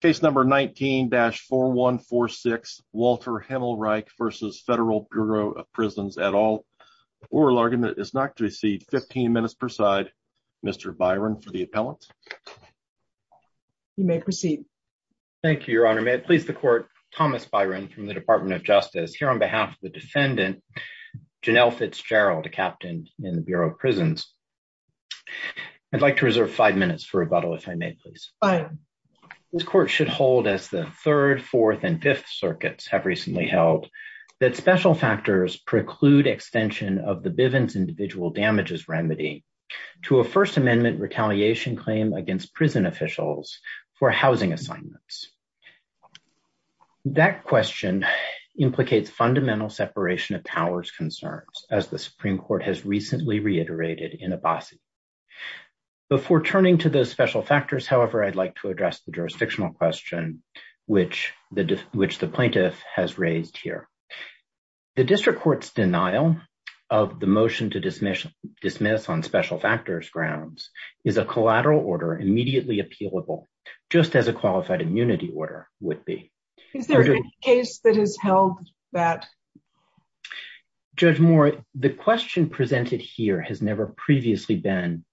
Case number 19-4146 Walter Himmelreich v. Federal Bureau of Prisons et al. Oral argument is not to be received. 15 minutes per side. Mr. Byron for the appellant. You may proceed. Thank you, Your Honor. May it please the Court, Thomas Byron from the Department of Justice, here on behalf of the defendant, Janelle Fitzgerald, a captain in the Bureau of Prisons. I'd like to reserve five minutes for rebuttal, if I may, please. This Court should hold, as the third, fourth, and fifth circuits have recently held, that special factors preclude extension of the Bivens individual damages remedy to a First Amendment retaliation claim against prison officials for housing assignments. That question implicates fundamental separation of powers concerns, as the Supreme Court has reiterated in Abbasi. Before turning to those special factors, however, I'd like to address the jurisdictional question which the plaintiff has raised here. The District Court's denial of the motion to dismiss on special factors grounds is a collateral order immediately appealable, just as a qualified immunity order would be. Is there a case that has held that? Judge Moore, the question presented here has never previously been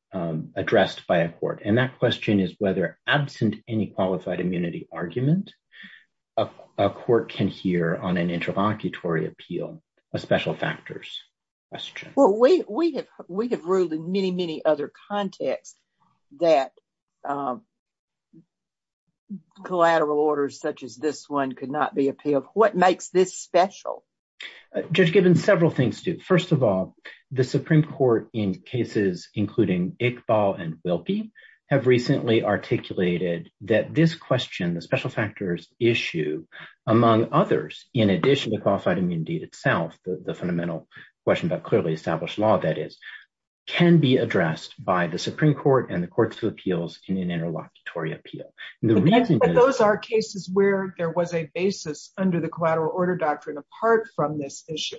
addressed by a court, and that question is whether, absent any qualified immunity argument, a court can hear on an interlocutory appeal a special factors question. Well, we have ruled in many, many other contexts that collateral orders such as this one could not be appealed. What makes this special? Judge Gibbons, several things do. First of all, the Supreme Court, in cases including Iqbal and Wilkie, have recently articulated that this question, the special factors issue, among others, in addition to qualified immunity itself, the fundamental question about clearly established law, that is, can be addressed by the Supreme Court and the courts of appeals in an interlocutory appeal. But those are cases where there was a basis under the collateral order doctrine, apart from this issue.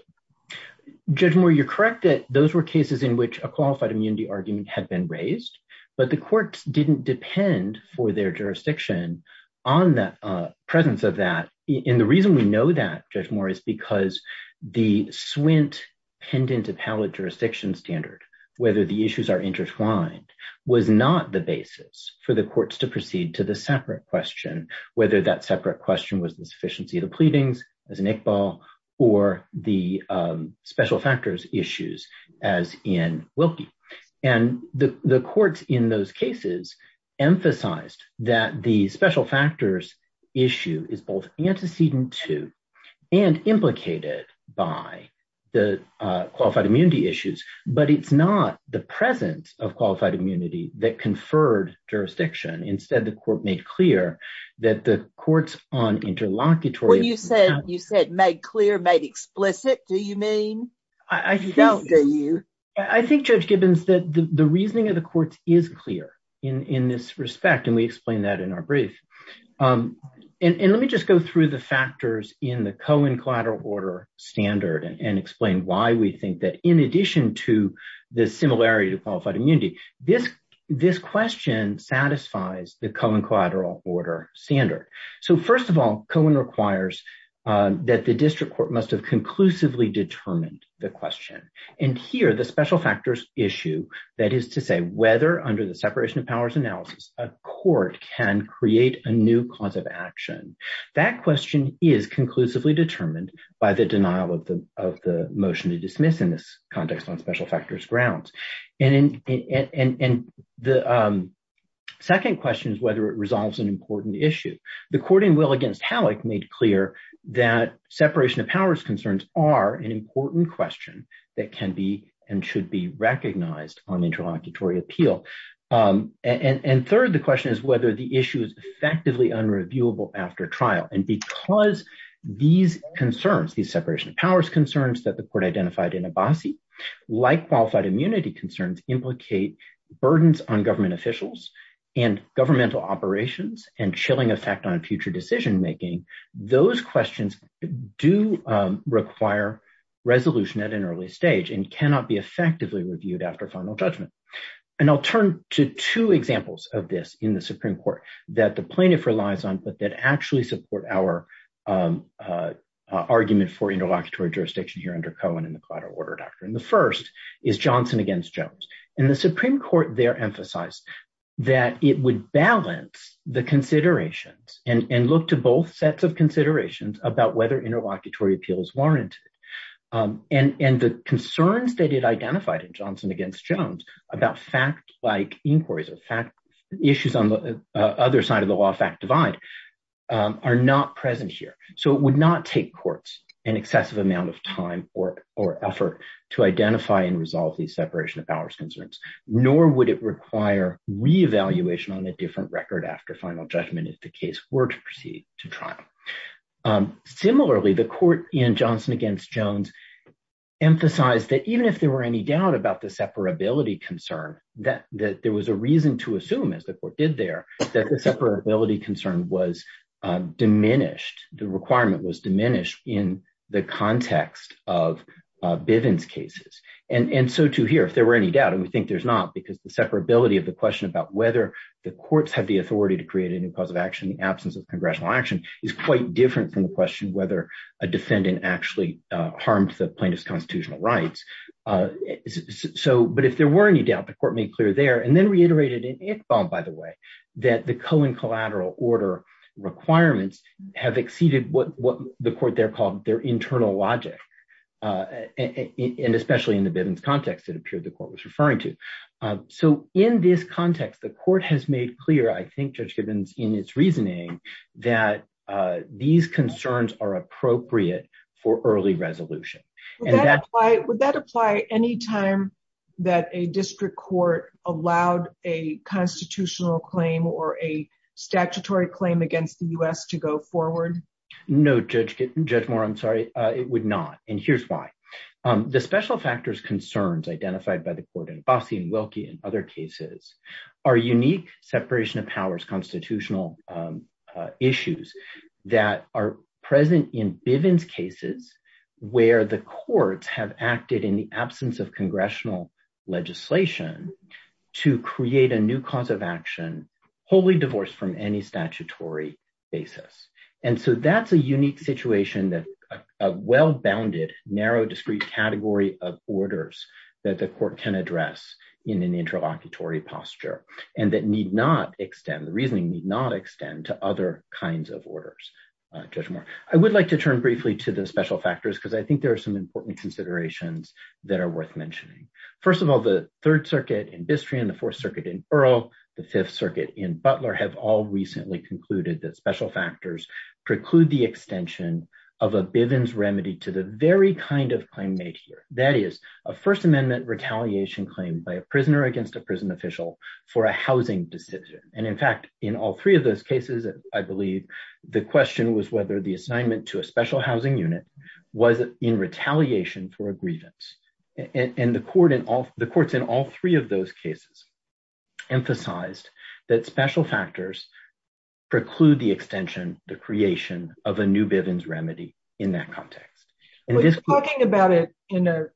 Judge Moore, you're correct that those were cases in which a qualified immunity argument had been raised, but the courts didn't depend for their jurisdiction on the presence of that. And the reason we know that, Judge Moore, is because the Swint Pendant Appellate Jurisdiction Standard, whether the issues are intertwined, was not the basis for the courts to proceed to the separate question, whether that separate question was the or the special factors issues, as in Wilkie. And the courts in those cases emphasized that the special factors issue is both antecedent to and implicated by the qualified immunity issues, but it's not the presence of qualified immunity that conferred jurisdiction. Instead, the court made clear that the courts on interlocutory... Well, you said made clear, made explicit, do you mean? You don't, do you? I think, Judge Gibbons, that the reasoning of the courts is clear in this respect, and we explained that in our brief. And let me just go through the factors in the Cohen collateral order standard and explain why we think that, in addition to the similarity to qualified immunity, this question satisfies the Cohen collateral order standard. So first of all, Cohen requires that the district court must have conclusively determined the question. And here, the special factors issue, that is to say, whether under the separation of powers analysis, a court can create a new cause of action. That question is conclusively determined by the denial of the motion to dismiss in this context on special factors grounds. And the second question is whether it resolves an important issue. The courting will against Halleck made clear that separation of powers concerns are an important question that can be and should be recognized on interlocutory appeal. And third, the question is whether the issue is effectively unreviewable after trial. And because these concerns, these separation of powers concerns that the court identified in Abbasi, like qualified immunity concerns, implicate burdens on government officials and governmental operations and chilling effect on future decision-making. Those questions do require resolution at an early stage and cannot be effectively reviewed after judgment. And I'll turn to two examples of this in the Supreme Court that the plaintiff relies on, but that actually support our argument for interlocutory jurisdiction here under Cohen and the collateral order doctrine. The first is Johnson against Jones. And the Supreme Court there emphasized that it would balance the considerations and look to both sets of considerations about whether interlocutory appeal is warranted. And the concerns that it identified in Johnson against Jones about fact-like inquiries or fact issues on the other side of the law fact divide are not present here. So it would not take courts an excessive amount of time or effort to identify and resolve these separation of powers concerns, nor would it require re-evaluation on a different record after final judgment if the case were to proceed to trial. Similarly, the court in Johnson against Jones emphasized that even if there were any doubt about the separability concern, that there was a reason to assume, as the court did there, that the separability concern was diminished, the requirement was diminished in the context of Bivens cases. And so too here, if there were any doubt, and we think there's not, because the separability of the question about whether the courts have the authority to create a new cause of action in the absence of congressional action is quite different from the question whether a defendant actually harmed the plaintiff's constitutional rights. So, but if there were any doubt, the court made clear there, and then reiterated in Iqbal, by the way, that the co- and collateral order requirements have exceeded what the court there called their internal logic. And especially in the Bivens context, it appeared the court was referring to. So in this context, the court has made clear, I think, Judge Gibbons, in its reasoning, that these concerns are appropriate for early resolution. Would that apply any time that a district court allowed a constitutional claim or a statutory claim against the U.S. to go forward? No, Judge Moore, I'm sorry, it would not. And here's why. The special factors concerns identified by the court in Abbasi and Wilkie and other cases are unique separation of powers constitutional issues that are present in Bivens cases, where the courts have acted in the absence of congressional legislation to create a new cause of action, wholly divorced from any statutory basis. And so that's a unique situation that a well-bounded, narrow, discrete category of orders that the court can address in an interlocutory posture and that need not extend, the reasoning need not extend to other kinds of orders, Judge Moore. I would like to turn briefly to the special factors because I think there are some important considerations that are worth mentioning. First of all, the Third Circuit in Bistrian, the Fourth Circuit in Earl, the Fifth Circuit in Butler have all recently concluded that special factors preclude the extension of a Bivens remedy to the very kind of claim made here. That is, a First Amendment retaliation claim by a prisoner against a prison official for a housing decision. And in fact, in all three of those cases, I believe, the question was whether the assignment to a special housing unit was in retaliation for a grievance. And the courts in all three of those cases emphasized that special factors preclude the extension, the creation of a new Bivens remedy in that context. We're talking about it in a,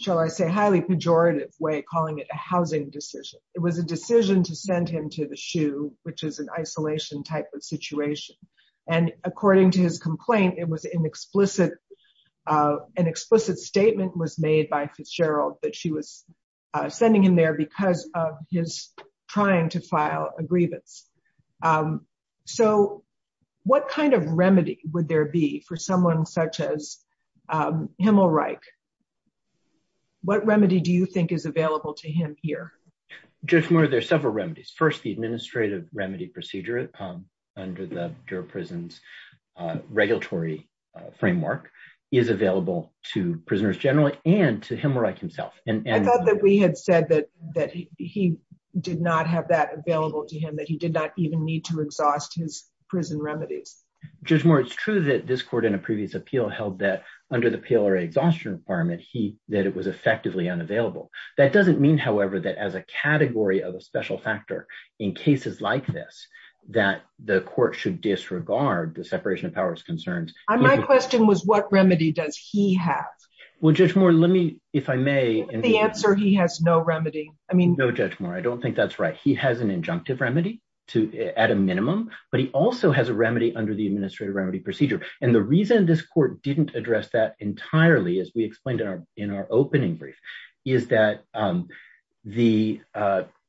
shall I say, highly pejorative way, calling it a housing decision. It was a decision to send him to the SHU, which is an isolation type of situation. And according to his complaint, it was an explicit, an explicit statement was made by Fitzgerald that she was sending him there because of his trying to file a grievance. So what kind of remedy would there be for someone such as Himmelreich? What remedy do you think is available to him here? Judge Moore, there are several remedies. First, the administrative remedy procedure under the Durham Prison's regulatory framework is available to prisoners generally and to Himmelreich himself. I thought that we had said that he did not have that available to him, that he did not even need to exhaust his prison remedies. Judge Moore, it's true that this court in a previous appeal held that under the PLRA exhaustion requirement, that it was effectively unavailable. That doesn't mean, however, that as a category of a special factor in cases like this, that the court should disregard the separation of powers concerns. My question was what remedy does he have? Well, Judge Moore, if I may- The answer, he has no remedy. I mean- No, Judge Moore, I don't think that's right. He has an injunctive remedy at a minimum, but he also has a remedy under the administrative remedy procedure. And the reason this court didn't address that entirely, as we explained in our opening brief, is that the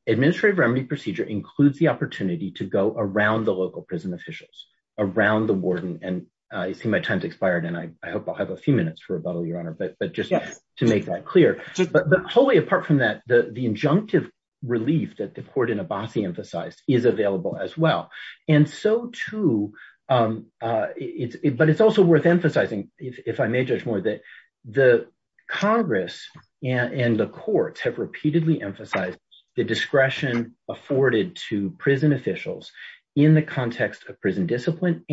administrative remedy procedure includes the opportunity to go around the local prison officials, around the warden. And I see my time's expired, and I hope I'll have a few minutes for rebuttal, Your Honor, but just to make that clear. But wholly apart from that, the injunctive relief that the court in Abbasi emphasized is available as well. And so, too, but it's also worth emphasizing, if I may, Judge Moore, that the Congress and the courts have repeatedly emphasized the discretion afforded to prison officials in the context of prison particular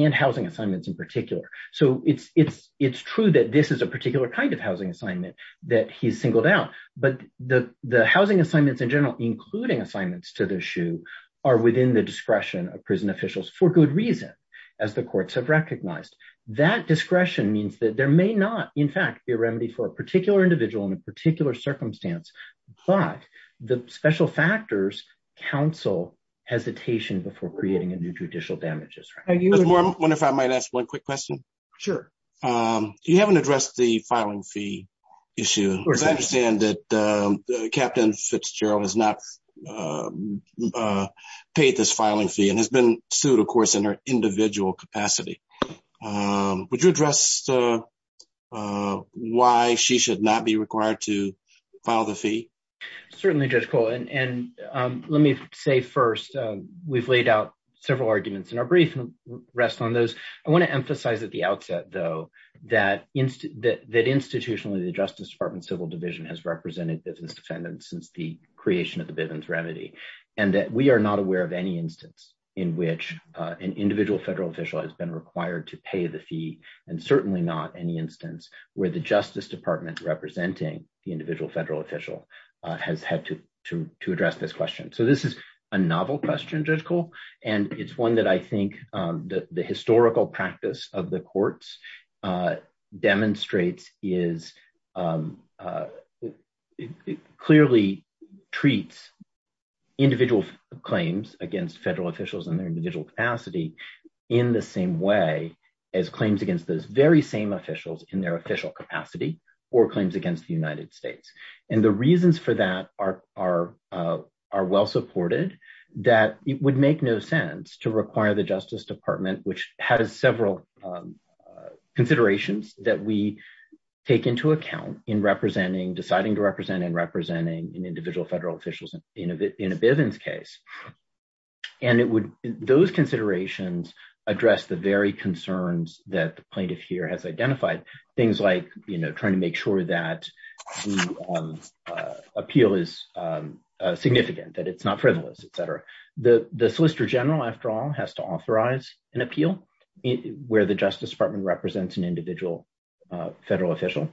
kind of housing assignment that he's singled out. But the housing assignments in general, including assignments to the SHU, are within the discretion of prison officials for good reason, as the courts have recognized. That discretion means that there may not, in fact, be a remedy for a particular individual in a particular circumstance, but the special factors counsel hesitation before creating a new judicial damages. Judge Moore, I wonder if I might ask one quick question? Sure. You haven't addressed the filing fee issue. I understand that Captain Fitzgerald has not paid this filing fee and has been sued, of course, in her individual capacity. Would you address why she should not be required to file the fee? Certainly, Judge Cole. And let me say first, we've laid out several arguments in our brief and rest on those. I want to emphasize at the outset, though, that institutionally, the Justice Department Civil Division has represented Bivens defendants since the creation of the Bivens remedy, and that we are not aware of any instance in which an individual federal official has been required to pay the fee, and certainly not any instance where the Justice Department representing the individual federal official has had to address this question. So this is a novel question, Judge Cole, and it's one that I think the historical practice of the courts demonstrates is clearly treats individual claims against federal officials in their individual capacity in the same way as claims against those very same officials in their are well supported, that it would make no sense to require the Justice Department, which has several considerations that we take into account in representing, deciding to represent, and representing an individual federal official in a Bivens case. And it would, those considerations address the very concerns that the plaintiff here has identified. Things like, you know, make sure that the appeal is significant, that it's not frivolous, etc. The Solicitor General, after all, has to authorize an appeal where the Justice Department represents an individual federal official,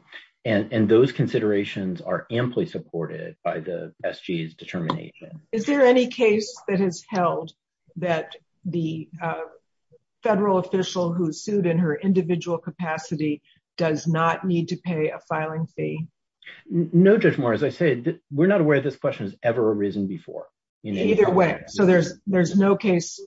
and those considerations are amply supported by the SGA's determination. Is there any case that has held that the federal official who sued in her individual capacity does not need to pay a filing fee? No, Judge Moore, as I said, we're not aware this question has ever arisen before. Either way. So there's no case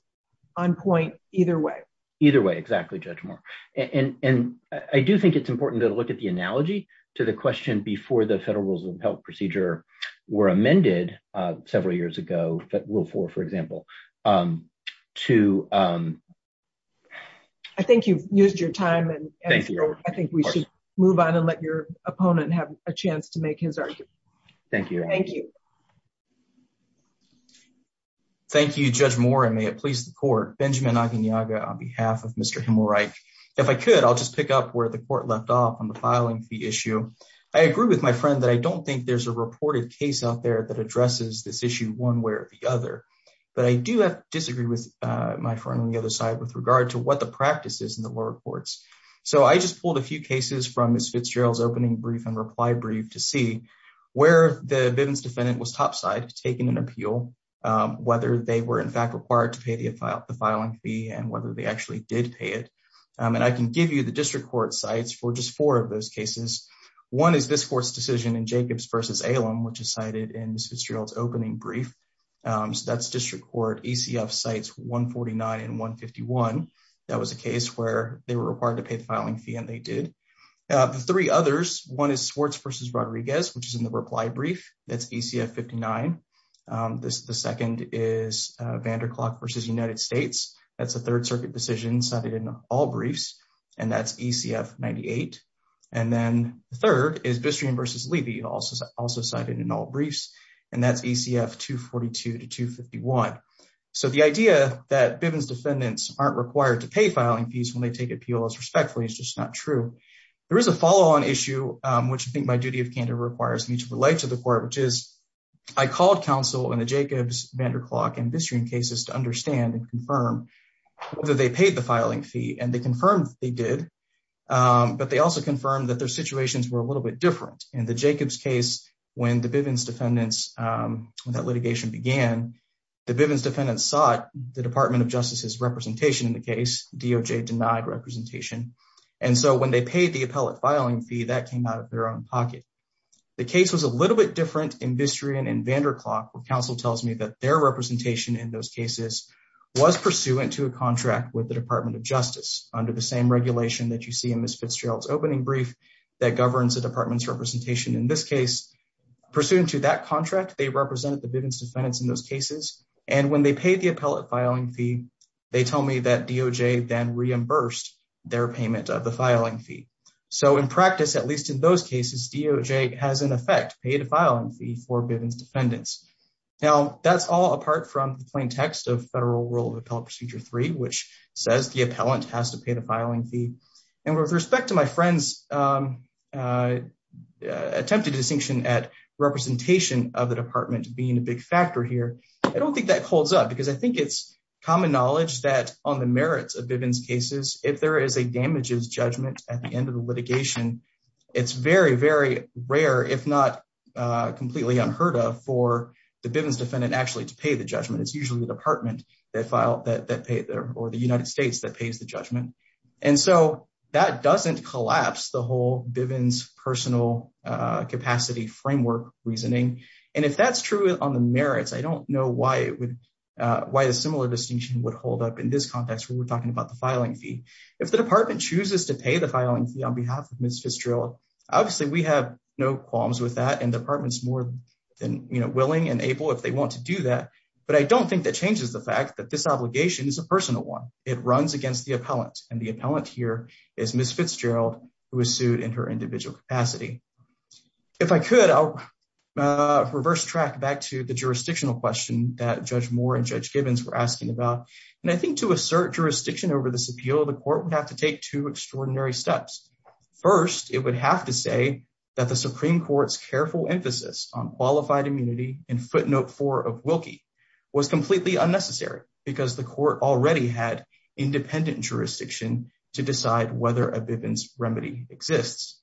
on point either way. Either way, exactly, Judge Moore. And I do think it's important to look at the analogy to the question before the federal rules of health procedure were amended several years ago, that rule four, for example, to... I think you've used your time and I think we should move on and let your opponent have a chance to make his argument. Thank you. Thank you. Thank you, Judge Moore, and may it please the court. Benjamin Aguinalda on behalf of Mr. Himmelreich. If I could, I'll just pick up where the court left off on the filing fee issue. I agree with my friend that I don't think there's a reported case out there that addresses this issue, but I do disagree with my friend on the other side with regard to what the practice is in the lower courts. So I just pulled a few cases from Ms. Fitzgerald's opening brief and reply brief to see where the Bivens defendant was topside taking an appeal, whether they were in fact required to pay the filing fee and whether they actually did pay it. And I can give you the district court sites for just four of those cases. One is this court's decision in Jacobs versus Alem, which is district court ECF sites 149 and 151. That was a case where they were required to pay the filing fee and they did. The three others, one is Swartz versus Rodriguez, which is in the reply brief. That's ECF 59. The second is Vanderklok versus United States. That's a third circuit decision cited in all briefs and that's ECF 98. And then the third is Bistream versus Levy, also cited in all briefs, and that's ECF 242 to 251. So the idea that Bivens defendants aren't required to pay filing fees when they take appeals respectfully is just not true. There is a follow-on issue, which I think by duty of candor requires me to relate to the court, which is I called counsel in the Jacobs, Vanderklok, and Bistream cases to understand and confirm whether they paid the filing fee. And they confirmed they did, but they also confirmed that their situations were a little bit In the Jacobs case, when the Bivens defendants, when that litigation began, the Bivens defendants sought the Department of Justice's representation in the case. DOJ denied representation. And so when they paid the appellate filing fee, that came out of their own pocket. The case was a little bit different in Bistream and Vanderklok, where counsel tells me that their representation in those cases was pursuant to a contract with the Department of Justice under the same regulation that you case. Pursuant to that contract, they represented the Bivens defendants in those cases. And when they paid the appellate filing fee, they tell me that DOJ then reimbursed their payment of the filing fee. So in practice, at least in those cases, DOJ has in effect paid a filing fee for Bivens defendants. Now that's all apart from the plain text of Federal Rule of Appellate Procedure 3, which says the appellant has to pay the filing fee. And with respect to my friend's attempted distinction at representation of the department being a big factor here, I don't think that holds up. Because I think it's common knowledge that on the merits of Bivens cases, if there is a damages judgment at the end of the litigation, it's very, very rare, if not completely unheard of, for the Bivens defendant actually to pay the judgment. It's usually the department that filed that or the United States that pays the judgment. And so that doesn't collapse the whole Bivens personal capacity framework reasoning. And if that's true on the merits, I don't know why the similar distinction would hold up in this context where we're talking about the filing fee. If the department chooses to pay the filing fee on behalf of Ms. Fitzgerald, obviously we have no qualms with that. And the department's more than willing and able if they want to do that. But I don't think that changes the fact that this obligation is a personal one. It runs against the appellant. And the appellant here is Ms. Fitzgerald, who was sued in her individual capacity. If I could, I'll reverse track back to the jurisdictional question that Judge Moore and Judge Bivens were asking about. And I think to assert jurisdiction over this appeal, the court would have to take two extraordinary steps. First, it would have to say that the Supreme Court's careful emphasis on qualified immunity in footnote four of Wilkie was completely unnecessary because the court already had independent jurisdiction to decide whether a Bivens remedy exists.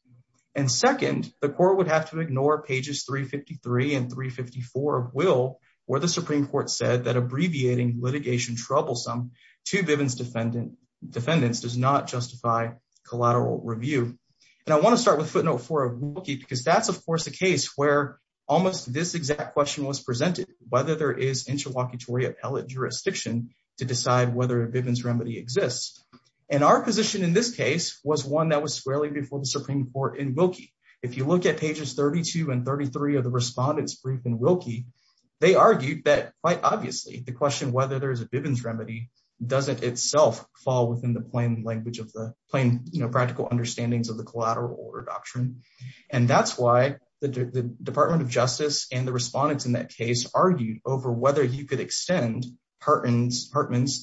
And second, the court would have to ignore pages 353 and 354 of Will, where the Supreme Court said that abbreviating litigation troublesome to Bivens defendants does not justify collateral review. And I want to start with footnote four of Wilkie because that's, of course, a case where almost this exact question was presented, whether there is interlocutory appellate jurisdiction to decide whether a Bivens remedy exists. And our position in this case was one that was squarely before the Supreme Court in Wilkie. If you look at pages 32 and 33 of the respondent's brief in Wilkie, they argued that, quite obviously, the question whether there is a Bivens remedy doesn't itself fall within the plain language of the plain, you know, practical understandings of the collateral order doctrine. And that's why the Department of Justice and the respondents in that case argued over whether you could extend Hartman's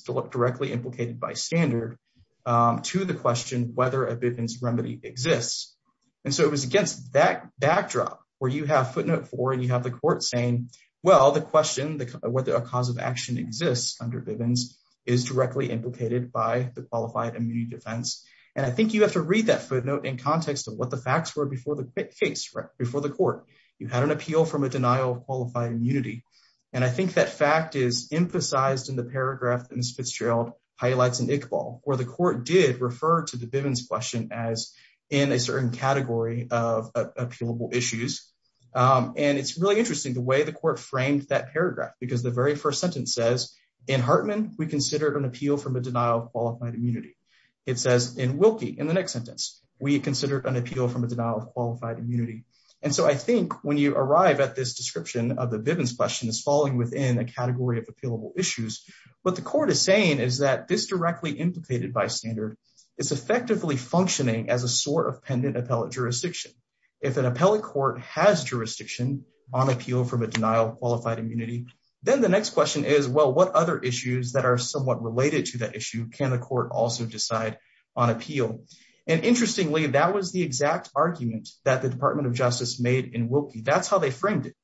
directly implicated by standard to the question whether a Bivens remedy exists. And so it was against that backdrop where you have footnote four and you have the court saying, well, the question whether a cause of action exists under Bivens is directly implicated by the qualified immunity defense. And I think you have to read that footnote in context of what the facts were before the case, before the court. You had an appeal from a denial of qualified immunity. And I think that fact is emphasized in the paragraph that Ms. Fitzgerald highlights in Iqbal, where the court did refer to the Bivens question as in a certain category of appealable issues. And it's really interesting the way the court framed that paragraph, because the very first sentence says, in Hartman, we in Wilkie, in the next sentence, we considered an appeal from a denial of qualified immunity. And so I think when you arrive at this description of the Bivens question is falling within a category of appealable issues. What the court is saying is that this directly implicated by standard is effectively functioning as a sort of pendant appellate jurisdiction. If an appellate court has jurisdiction on appeal from a denial of qualified immunity, then the next question is, well, what other issues that are somewhat related to that issue can the court also decide on appeal? And interestingly, that was the exact argument that the Department of Justice made in Wilkie. That's how they framed it.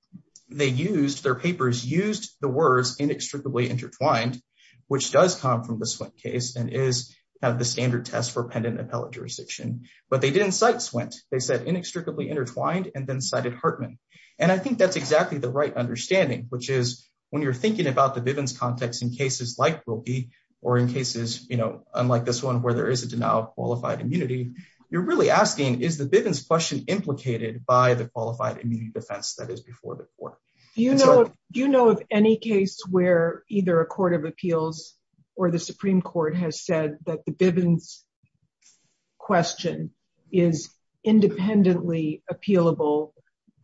They used, their papers used the words inextricably intertwined, which does come from the Swent case and is the standard test for pendant appellate jurisdiction. But they didn't cite Swent. They said inextricably intertwined and then cited Hartman. And I think that's exactly the right understanding, which is when you're thinking about the Bivens context in cases like Wilkie or in cases, you know, unlike this one where there is a denial of qualified immunity, you're really asking, is the Bivens question implicated by the qualified immunity defense that is before the court? Do you know of any case where either a court of appeals or the Supreme Court has said that the Bivens question is independently appealable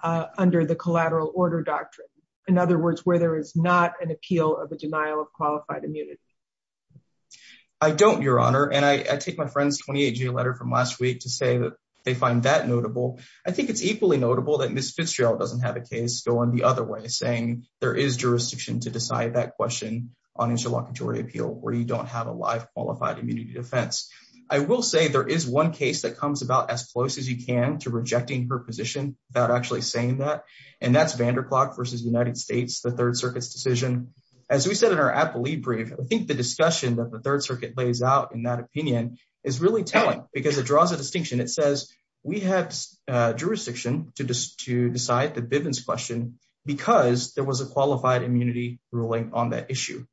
under the collateral order doctrine? In other words, where there is not an appeal of a denial of qualified immunity. I don't, Your Honor. And I take my friend's 28-G letter from last week to say that they find that notable. I think it's equally notable that Ms. Fitzgerald doesn't have a case going the other way, saying there is jurisdiction to decide that question on interlocutory appeal where you don't have a live qualified immunity defense. I will say there is one case that comes about as close as you can to rejecting her position without actually saying that, and that's Vanderklag versus United States, the Third Circuit's decision. As we said in our appellee brief, I think the discussion that the Third Circuit lays out in that opinion is really telling because it draws a distinction. It says we have jurisdiction to decide the Bivens question because there was a qualified immunity ruling on that issue.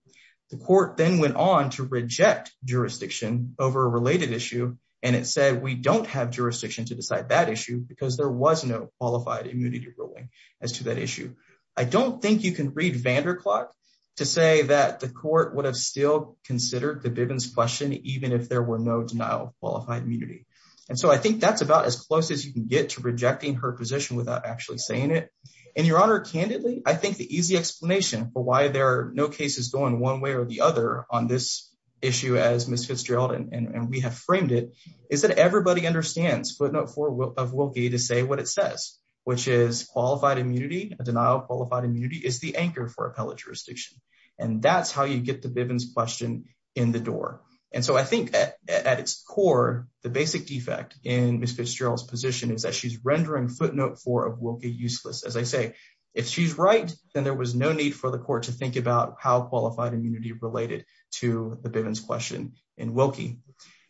The court then went on to reject jurisdiction over a related issue, and it said we don't have jurisdiction to decide that issue because there was no qualified immunity ruling as to that issue. I don't think you can read Vanderklag to say that the court would have still considered the Bivens question even if there were no denial of qualified immunity. And so I think that's about as close as you can get to rejecting her position without actually saying it. And, Your Honor, candidly, I think the easy explanation for why there are no cases going one way or the other on this issue as Ms. Fitzgerald, and we have framed it, is that everybody understands footnote four of Wilkie to say what it says, which is qualified immunity, a denial of qualified immunity is the anchor for appellate jurisdiction. And that's how you get the Bivens question in the door. And so I think at its core, the basic defect in Ms. Fitzgerald's position is that she's rendering footnote four of Wilkie useless. As I say, if she's right, then there was no need for the court to think about how qualified immunity related to the Bivens question in Wilkie.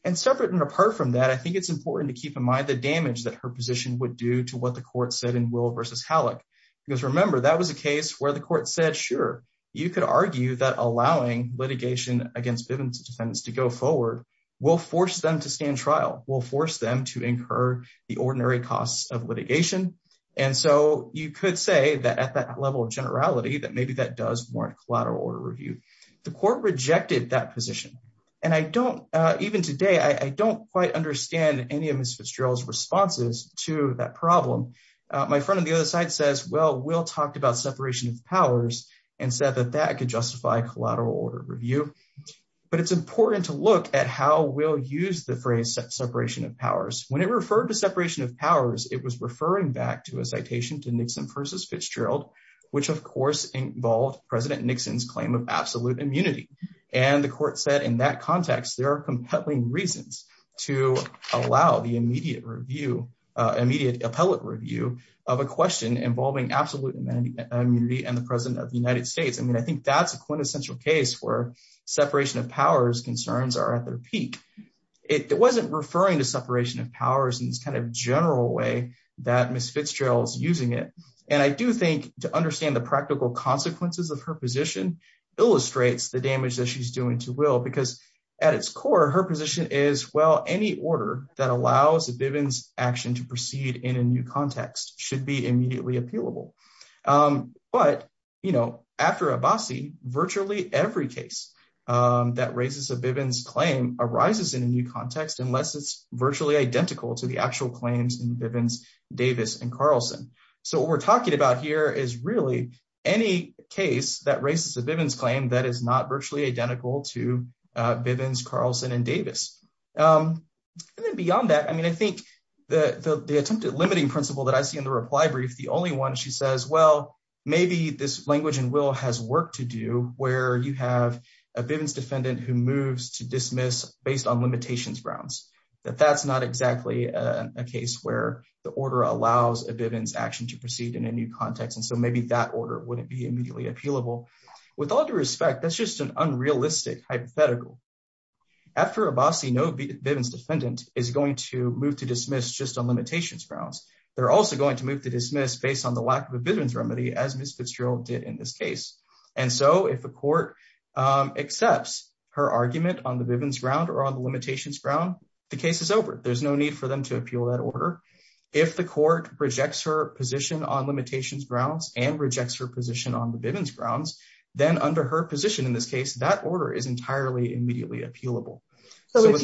And separate and apart from that, I think it's important to keep in mind the damage that her position would do to what the court said in Will v. Halleck. Because remember, that was a case where the court said, sure, you could argue that allowing litigation against Bivens defendants to go forward will force them to stand trial, will force them to incur the ordinary costs of litigation. And so you could say that at that level of generality, that maybe that does warrant collateral order review. The court rejected that position. And even today, I don't quite understand any of Ms. Fitzgerald's responses to that problem. My friend on the other side says, well, Will talked about separation of powers and said that that could justify collateral order review. But it's important to look at how Will used the phrase separation of powers. When it referred to separation of powers, it was referring back to a citation to Nixon versus Fitzgerald, which of course, involved President Nixon's claim of absolute immunity. And the court said in that context, there are compelling reasons to allow the immediate review, immediate appellate review of a question involving absolute immunity and the President of the United States. I mean, I think that's a quintessential case where separation of powers concerns are at their peak. It wasn't referring to separation of powers in this kind of general way that Ms. Fitzgerald's using it. And I do think to understand the practical consequences of her position illustrates the damage that she's doing to Will, because at its core, her position is, well, any order that allows a Bivens action to proceed in a new context should be immediately appealable. But, you know, after Abbasi, virtually every case that raises a Bivens claim arises in a new context unless it's virtually identical to the actual claims in Bivens, Davis, and Carlson. So what we're talking about here is really any case that raises a Bivens claim that is not virtually identical to Bivens, Carlson, and Davis. And then beyond that, I mean, I think the attempted limiting principle that I see in the reply brief, the only one she says, well, maybe this language in Will has work to do where you have a Bivens defendant who moves to dismiss based on limitations grounds, that that's not exactly a case where the order allows a Bivens action to proceed in a new context. And so maybe that order wouldn't be immediately appealable. With all due respect, that's just an unrealistic hypothetical. After Abbasi, no Bivens defendant is going to move to dismiss just on limitations grounds. They're also going to move to dismiss based on the lack of a Bivens remedy as Ms. Fitzgerald did in this case. And so if the court accepts her argument on the Bivens ground or on the limitations ground, the case is over. There's no need for them to appeal that order. If the court rejects her position on limitations grounds and rejects her position on the Bivens grounds, then under her position in this case, that order is entirely immediately appealable. So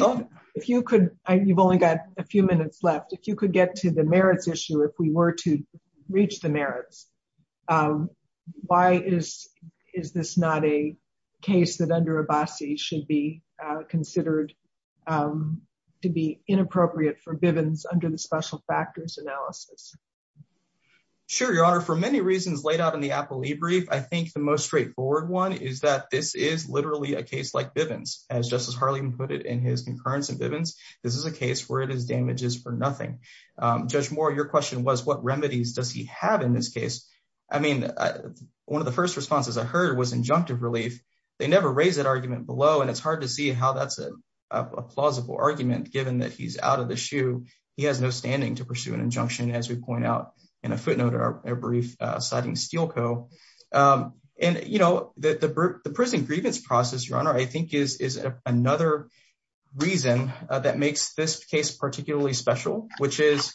if you could, you've only got a few minutes left. If you could get to the merits issue, if we were to reach the merits, why is, is this not a case that under Abbasi should be considered to be inappropriate for Bivens under the special factors analysis? Sure. Your honor, for many reasons laid out in the appellee brief, I think the most straightforward one is that this is literally a case like Bivens. As Justice Harligan put it in his concurrence in Bivens, this is a case where it is damages for nothing. Judge Moore, your question was what remedies does he have in this case? I mean, one of the first responses I heard was injunctive relief. They never raised that argument below, and it's hard to see how that's a plausible argument given that he's out of the shoe. He has no standing to pursue an appeal. The prison grievance process, your honor, I think is another reason that makes this case particularly special, which is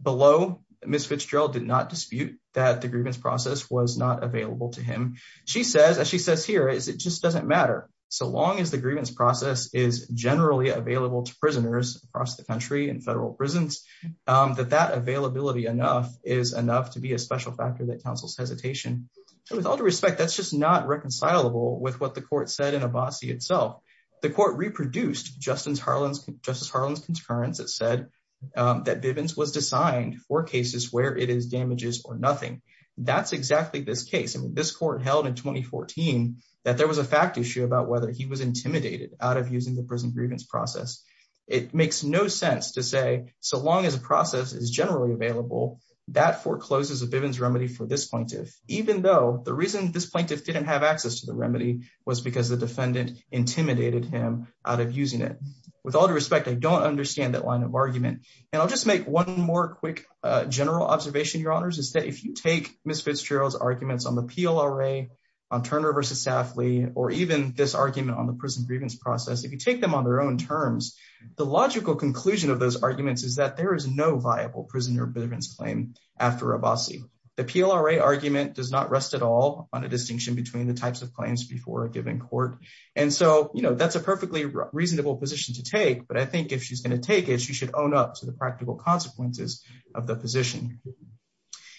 below Ms. Fitzgerald did not dispute that the grievance process was not available to him. She says, as she says here, is it just doesn't matter. So long as the grievance process is generally available to prisoners across the country in federal prisons, that that with all due respect, that's just not reconcilable with what the court said in Abbasi itself. The court reproduced Justice Harlan's concurrence that said that Bivens was designed for cases where it is damages for nothing. That's exactly this case. I mean, this court held in 2014 that there was a fact issue about whether he was intimidated out of using the prison grievance process. It makes no sense to say so long as a process is generally available, that forecloses a Bivens for this plaintiff, even though the reason this plaintiff didn't have access to the remedy was because the defendant intimidated him out of using it. With all due respect, I don't understand that line of argument. And I'll just make one more quick general observation, your honors, is that if you take Ms. Fitzgerald's arguments on the PLRA, on Turner versus Safley, or even this argument on the prison grievance process, if you take them on their own terms, the logical conclusion of those arguments is that there is no viable prisoner of Bivens claim after Abbasi. The PLRA argument does not rest at all on a distinction between the types of claims before a given court. And so, you know, that's a perfectly reasonable position to take. But I think if she's going to take it, she should own up to the practical consequences of the position.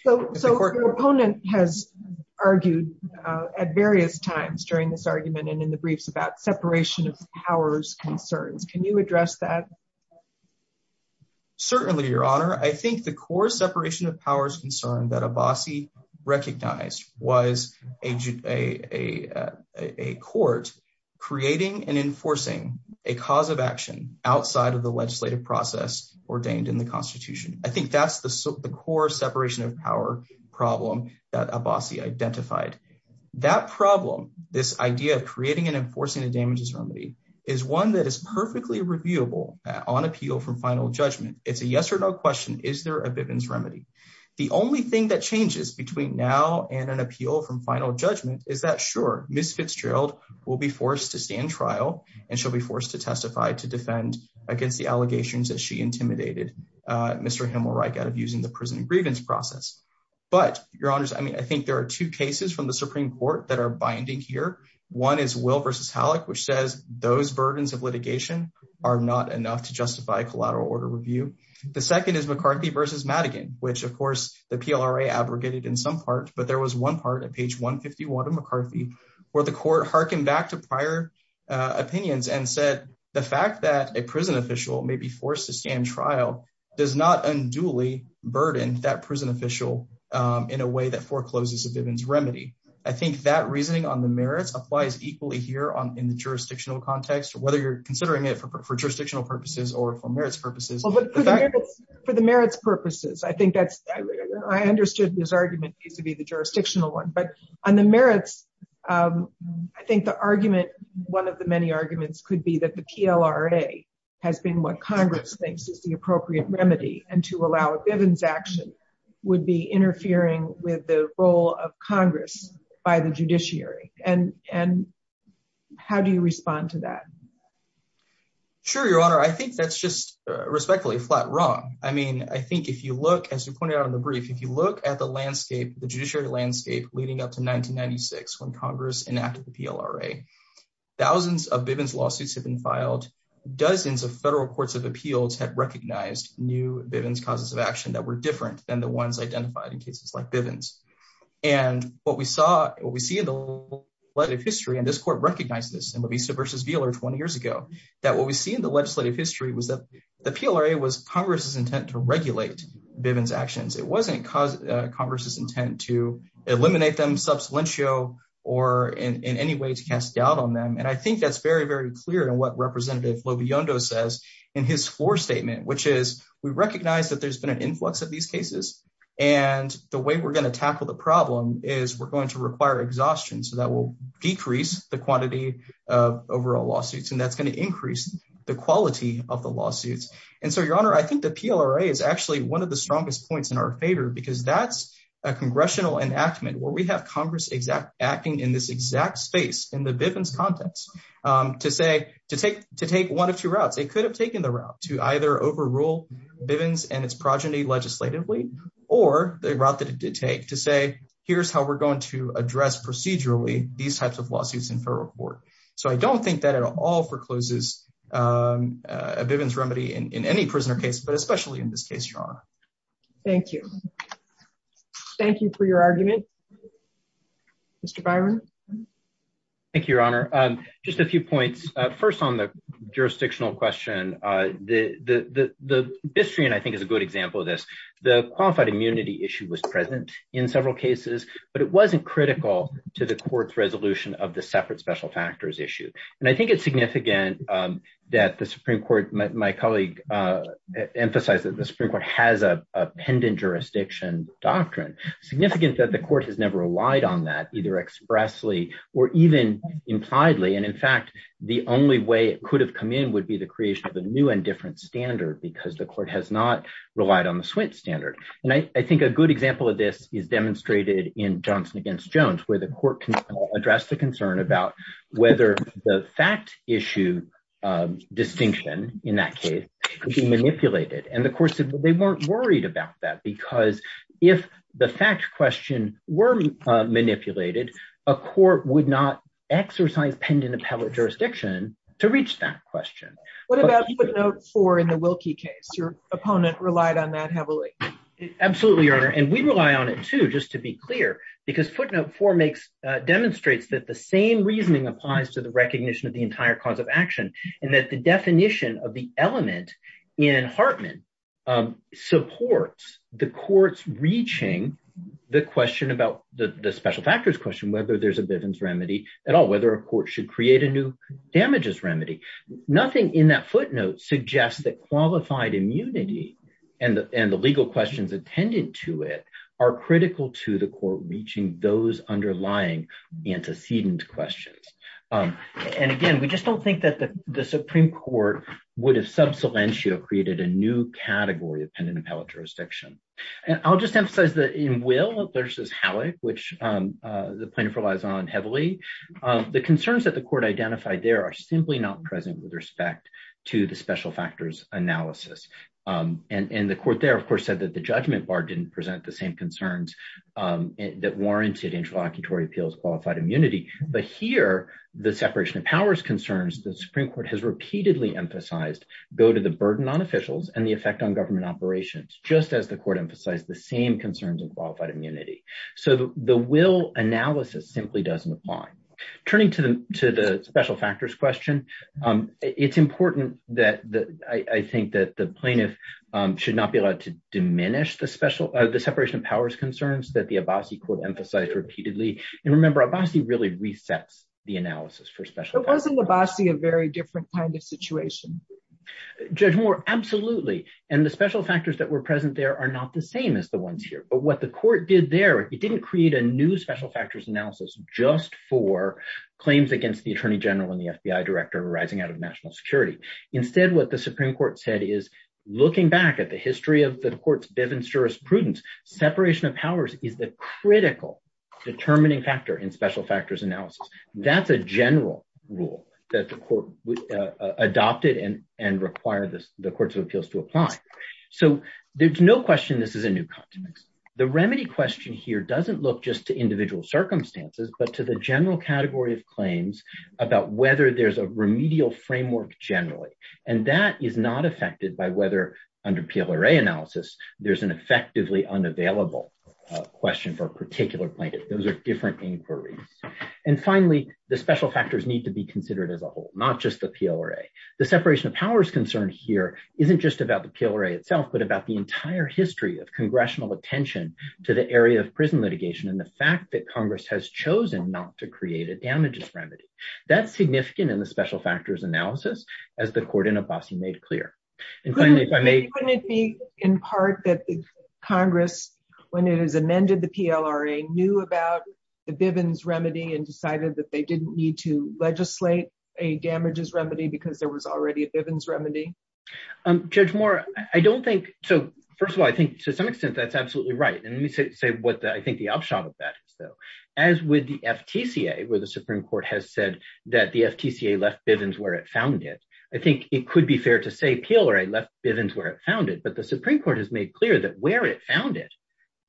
So your opponent has argued at various times during this argument and in the briefs about separation of powers concerns. Can you address that? Certainly, your honor. I think the core separation of powers concern that Abbasi recognized was a court creating and enforcing a cause of action outside of the legislative process ordained in the constitution. I think that's the core separation of power problem that Abbasi identified. That problem, this idea of creating and enforcing a damages remedy is one that is final judgment. It's a yes or no question. Is there a Bivens remedy? The only thing that changes between now and an appeal from final judgment is that sure, Ms. Fitzgerald will be forced to stand trial and she'll be forced to testify to defend against the allegations that she intimidated Mr. Himmelreich out of using the prison grievance process. But your honors, I mean, I think there are two cases from the Supreme Court that are binding here. One is Will versus Halleck, which says those burdens of litigation are not enough to justify a collateral order review. The second is McCarthy versus Madigan, which of course the PLRA abrogated in some part, but there was one part at page 151 of McCarthy where the court hearkened back to prior opinions and said the fact that a prison official may be forced to stand trial does not unduly burden that prison official in a way that forecloses a Bivens remedy. I think that reasoning on the merits applies equally here in the jurisdictional context, whether you're considering it for jurisdictional purposes or for merits purposes. For the merits purposes, I think that's, I understood this argument needs to be the jurisdictional one, but on the merits, I think the argument, one of the many arguments could be that the PLRA has been what Congress thinks is the appropriate remedy and to allow Bivens action would be interfering with the role of Congress by the judiciary. And, and how do you respond to that? Sure, your honor, I think that's just respectfully flat wrong. I mean, I think if you look, as you pointed out in the brief, if you look at the landscape, the judiciary landscape leading up to 1996, when Congress enacted the PLRA, thousands of Bivens lawsuits have been filed, dozens of federal courts of appeals had recognized new Bivens causes of action that were different than the ones identified in cases like Bivens. And what we saw, what we see in the legislative history, and this court recognized this in LaVista versus Wheeler 20 years ago, that what we see in the legislative history was that the PLRA was Congress's intent to regulate Bivens actions. It wasn't Congress's intent to eliminate them sub salientio or in any way to cast doubt on them. And I think that's very, very clear in what Representative LoBiondo says in his floor statement, which is we recognize that there's been an influx of these cases. And the way we're going to tackle the problem is we're going to require exhaustion. So that will decrease the quantity of overall lawsuits. And that's going to increase the quality of the lawsuits. And so your honor, I think the PLRA is actually one of the strongest points in our favor, because that's a congressional enactment where we have Congress acting in this exact space in the Bivens context to say, to take one of two routes. They could have taken the route to either overrule Bivens and its progeny legislatively, or the route that it did take to say, here's how we're going to address procedurally these types of lawsuits in federal court. So I don't think that at all forecloses a Bivens remedy in any prisoner case, but especially in this case, your honor. Thank you. Thank you for your argument. Mr. Byron. Thank you, your honor. Just a few points. First on the jurisdictional question, the Bistrian, I think is a good example of this. The qualified immunity issue was present in several cases, but it wasn't critical to the court's resolution of the separate special factors issue. And I think it's significant that the Supreme court, my colleague emphasized that the Supreme court has a pendant jurisdiction doctrine. Significant that the court has never relied on that either expressly or even impliedly. And in fact, the only way it could have come in would be the creation of a new and different standard because the court has not relied on the Swint standard. And I think a good example of this is demonstrated in Johnson against Jones, where the court can address the concern about whether the fact issue distinction in that case could be manipulated. And of course they weren't worried about that because if the fact question were manipulated, a court would not exercise pendant appellate jurisdiction to reach that question. What about footnote four in the Wilkie case? Your opponent relied on that heavily. Absolutely, your honor. And we rely on it too, just to be clear because footnote four makes, demonstrates that the same reasoning applies to the recognition of the entire cause of action and that the definition of the element in Hartman supports the court's reaching the question about the special factors question, whether there's a Bivens remedy at all, whether a court should create a new damages remedy. Nothing in that footnote suggests that qualified immunity and the legal questions attended to it are critical to the court reaching those underlying antecedent questions. And again, we just don't think that the Supreme court would have sub cilentio created a new category of pendant appellate jurisdiction. And I'll just emphasize in Will v. Halleck, which the plaintiff relies on heavily, the concerns that the court identified there are simply not present with respect to the special factors analysis. And the court there, of course, said that the judgment bar didn't present the same concerns that warranted interlocutory appeals qualified immunity. But here, the separation of powers concerns, the Supreme court has repeatedly emphasized go to the burden on officials and the effect on government operations, just as the court emphasized the same concerns and qualified immunity. So the will analysis simply doesn't apply. Turning to the to the special factors question. It's important that I think that the plaintiff should not be allowed to diminish the special, the separation of powers concerns that the Abbasi court emphasized repeatedly. And remember, Abbasi really resets the analysis for special wasn't Abbasi a very different kind situation? Judge Moore, absolutely. And the special factors that were present there are not the same as the ones here. But what the court did there, it didn't create a new special factors analysis just for claims against the Attorney General and the FBI director rising out of national security. Instead, what the Supreme Court said is, looking back at the history of the court's Bivens jurisprudence, separation of powers is the critical determining factor in special factors analysis. That's a general rule that the court adopted and and require the courts of appeals to apply. So there's no question this is a new context. The remedy question here doesn't look just to individual circumstances, but to the general category of claims about whether there's a remedial framework generally. And that is not affected by whether under PLRA analysis, there's an effectively unavailable question for a particular plaintiff. Those are different inquiries. And finally, the special factors need to be considered as a whole, not just the PLRA. The separation of powers concern here isn't just about the PLRA itself, but about the entire history of congressional attention to the area of prison litigation and the fact that Congress has chosen not to create a damages remedy. That's significant in the special factors analysis, as the court in Abbasi made clear. And finally, if I may... Couldn't it be in part that Congress, when it has amended the PLRA, knew about the Bivens remedy and decided that they didn't need to legislate a damages remedy because there was already a Bivens remedy? Judge Moore, I don't think... So first of all, I think to some extent that's absolutely right. And let me say what I think the upshot of that is, though. As with the FTCA, where the Supreme Court has said that the FTCA left Bivens where it found it. I think it could be fair to say PLRA left Bivens where it found it,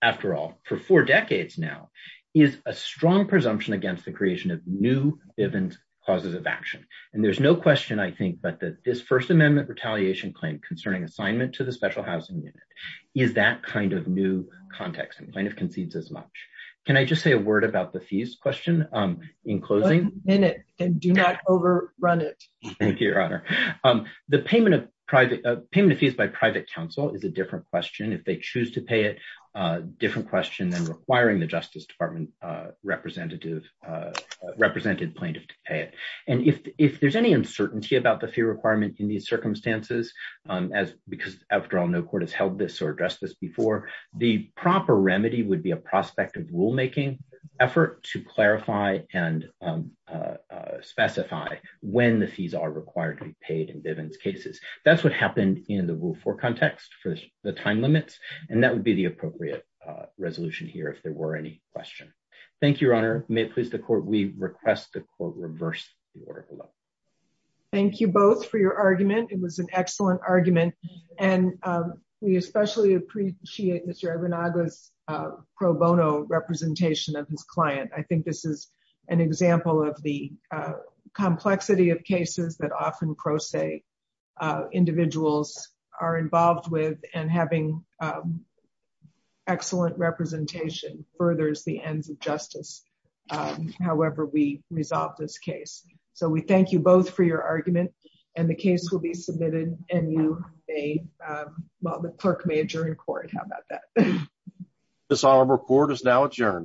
after all, for four decades now, is a strong presumption against the creation of new Bivens causes of action. And there's no question, I think, but that this First Amendment retaliation claim concerning assignment to the special housing unit is that kind of new context and kind of concedes as much. Can I just say a word about the fees question in closing? One minute, and do not overrun it. Thank you, Your Honor. The payment of fees by private counsel is a different question. If they choose to pay it, a different question than requiring the Justice Department representative, represented plaintiff to pay it. And if there's any uncertainty about the fee requirement in these circumstances, because after all, no court has held this or addressed this before, the proper remedy would be a prospective rulemaking effort to clarify and specify when the fees are required to be paid in Bivens cases. That's what happened in the Rule 4 context for the time limits. And that would be the appropriate resolution here if there were any questions. Thank you, Your Honor. May it please the Court, we request the Court reverse the order below. Thank you both for your argument. It was an excellent argument. And we especially appreciate Mr. Ibanaga's pro bono representation of his client. I think this is an example of the having excellent representation furthers the ends of justice. However, we resolve this case. So we thank you both for your argument. And the case will be submitted and you may, well, the clerk may adjourn court. How about that? This report is now adjourned.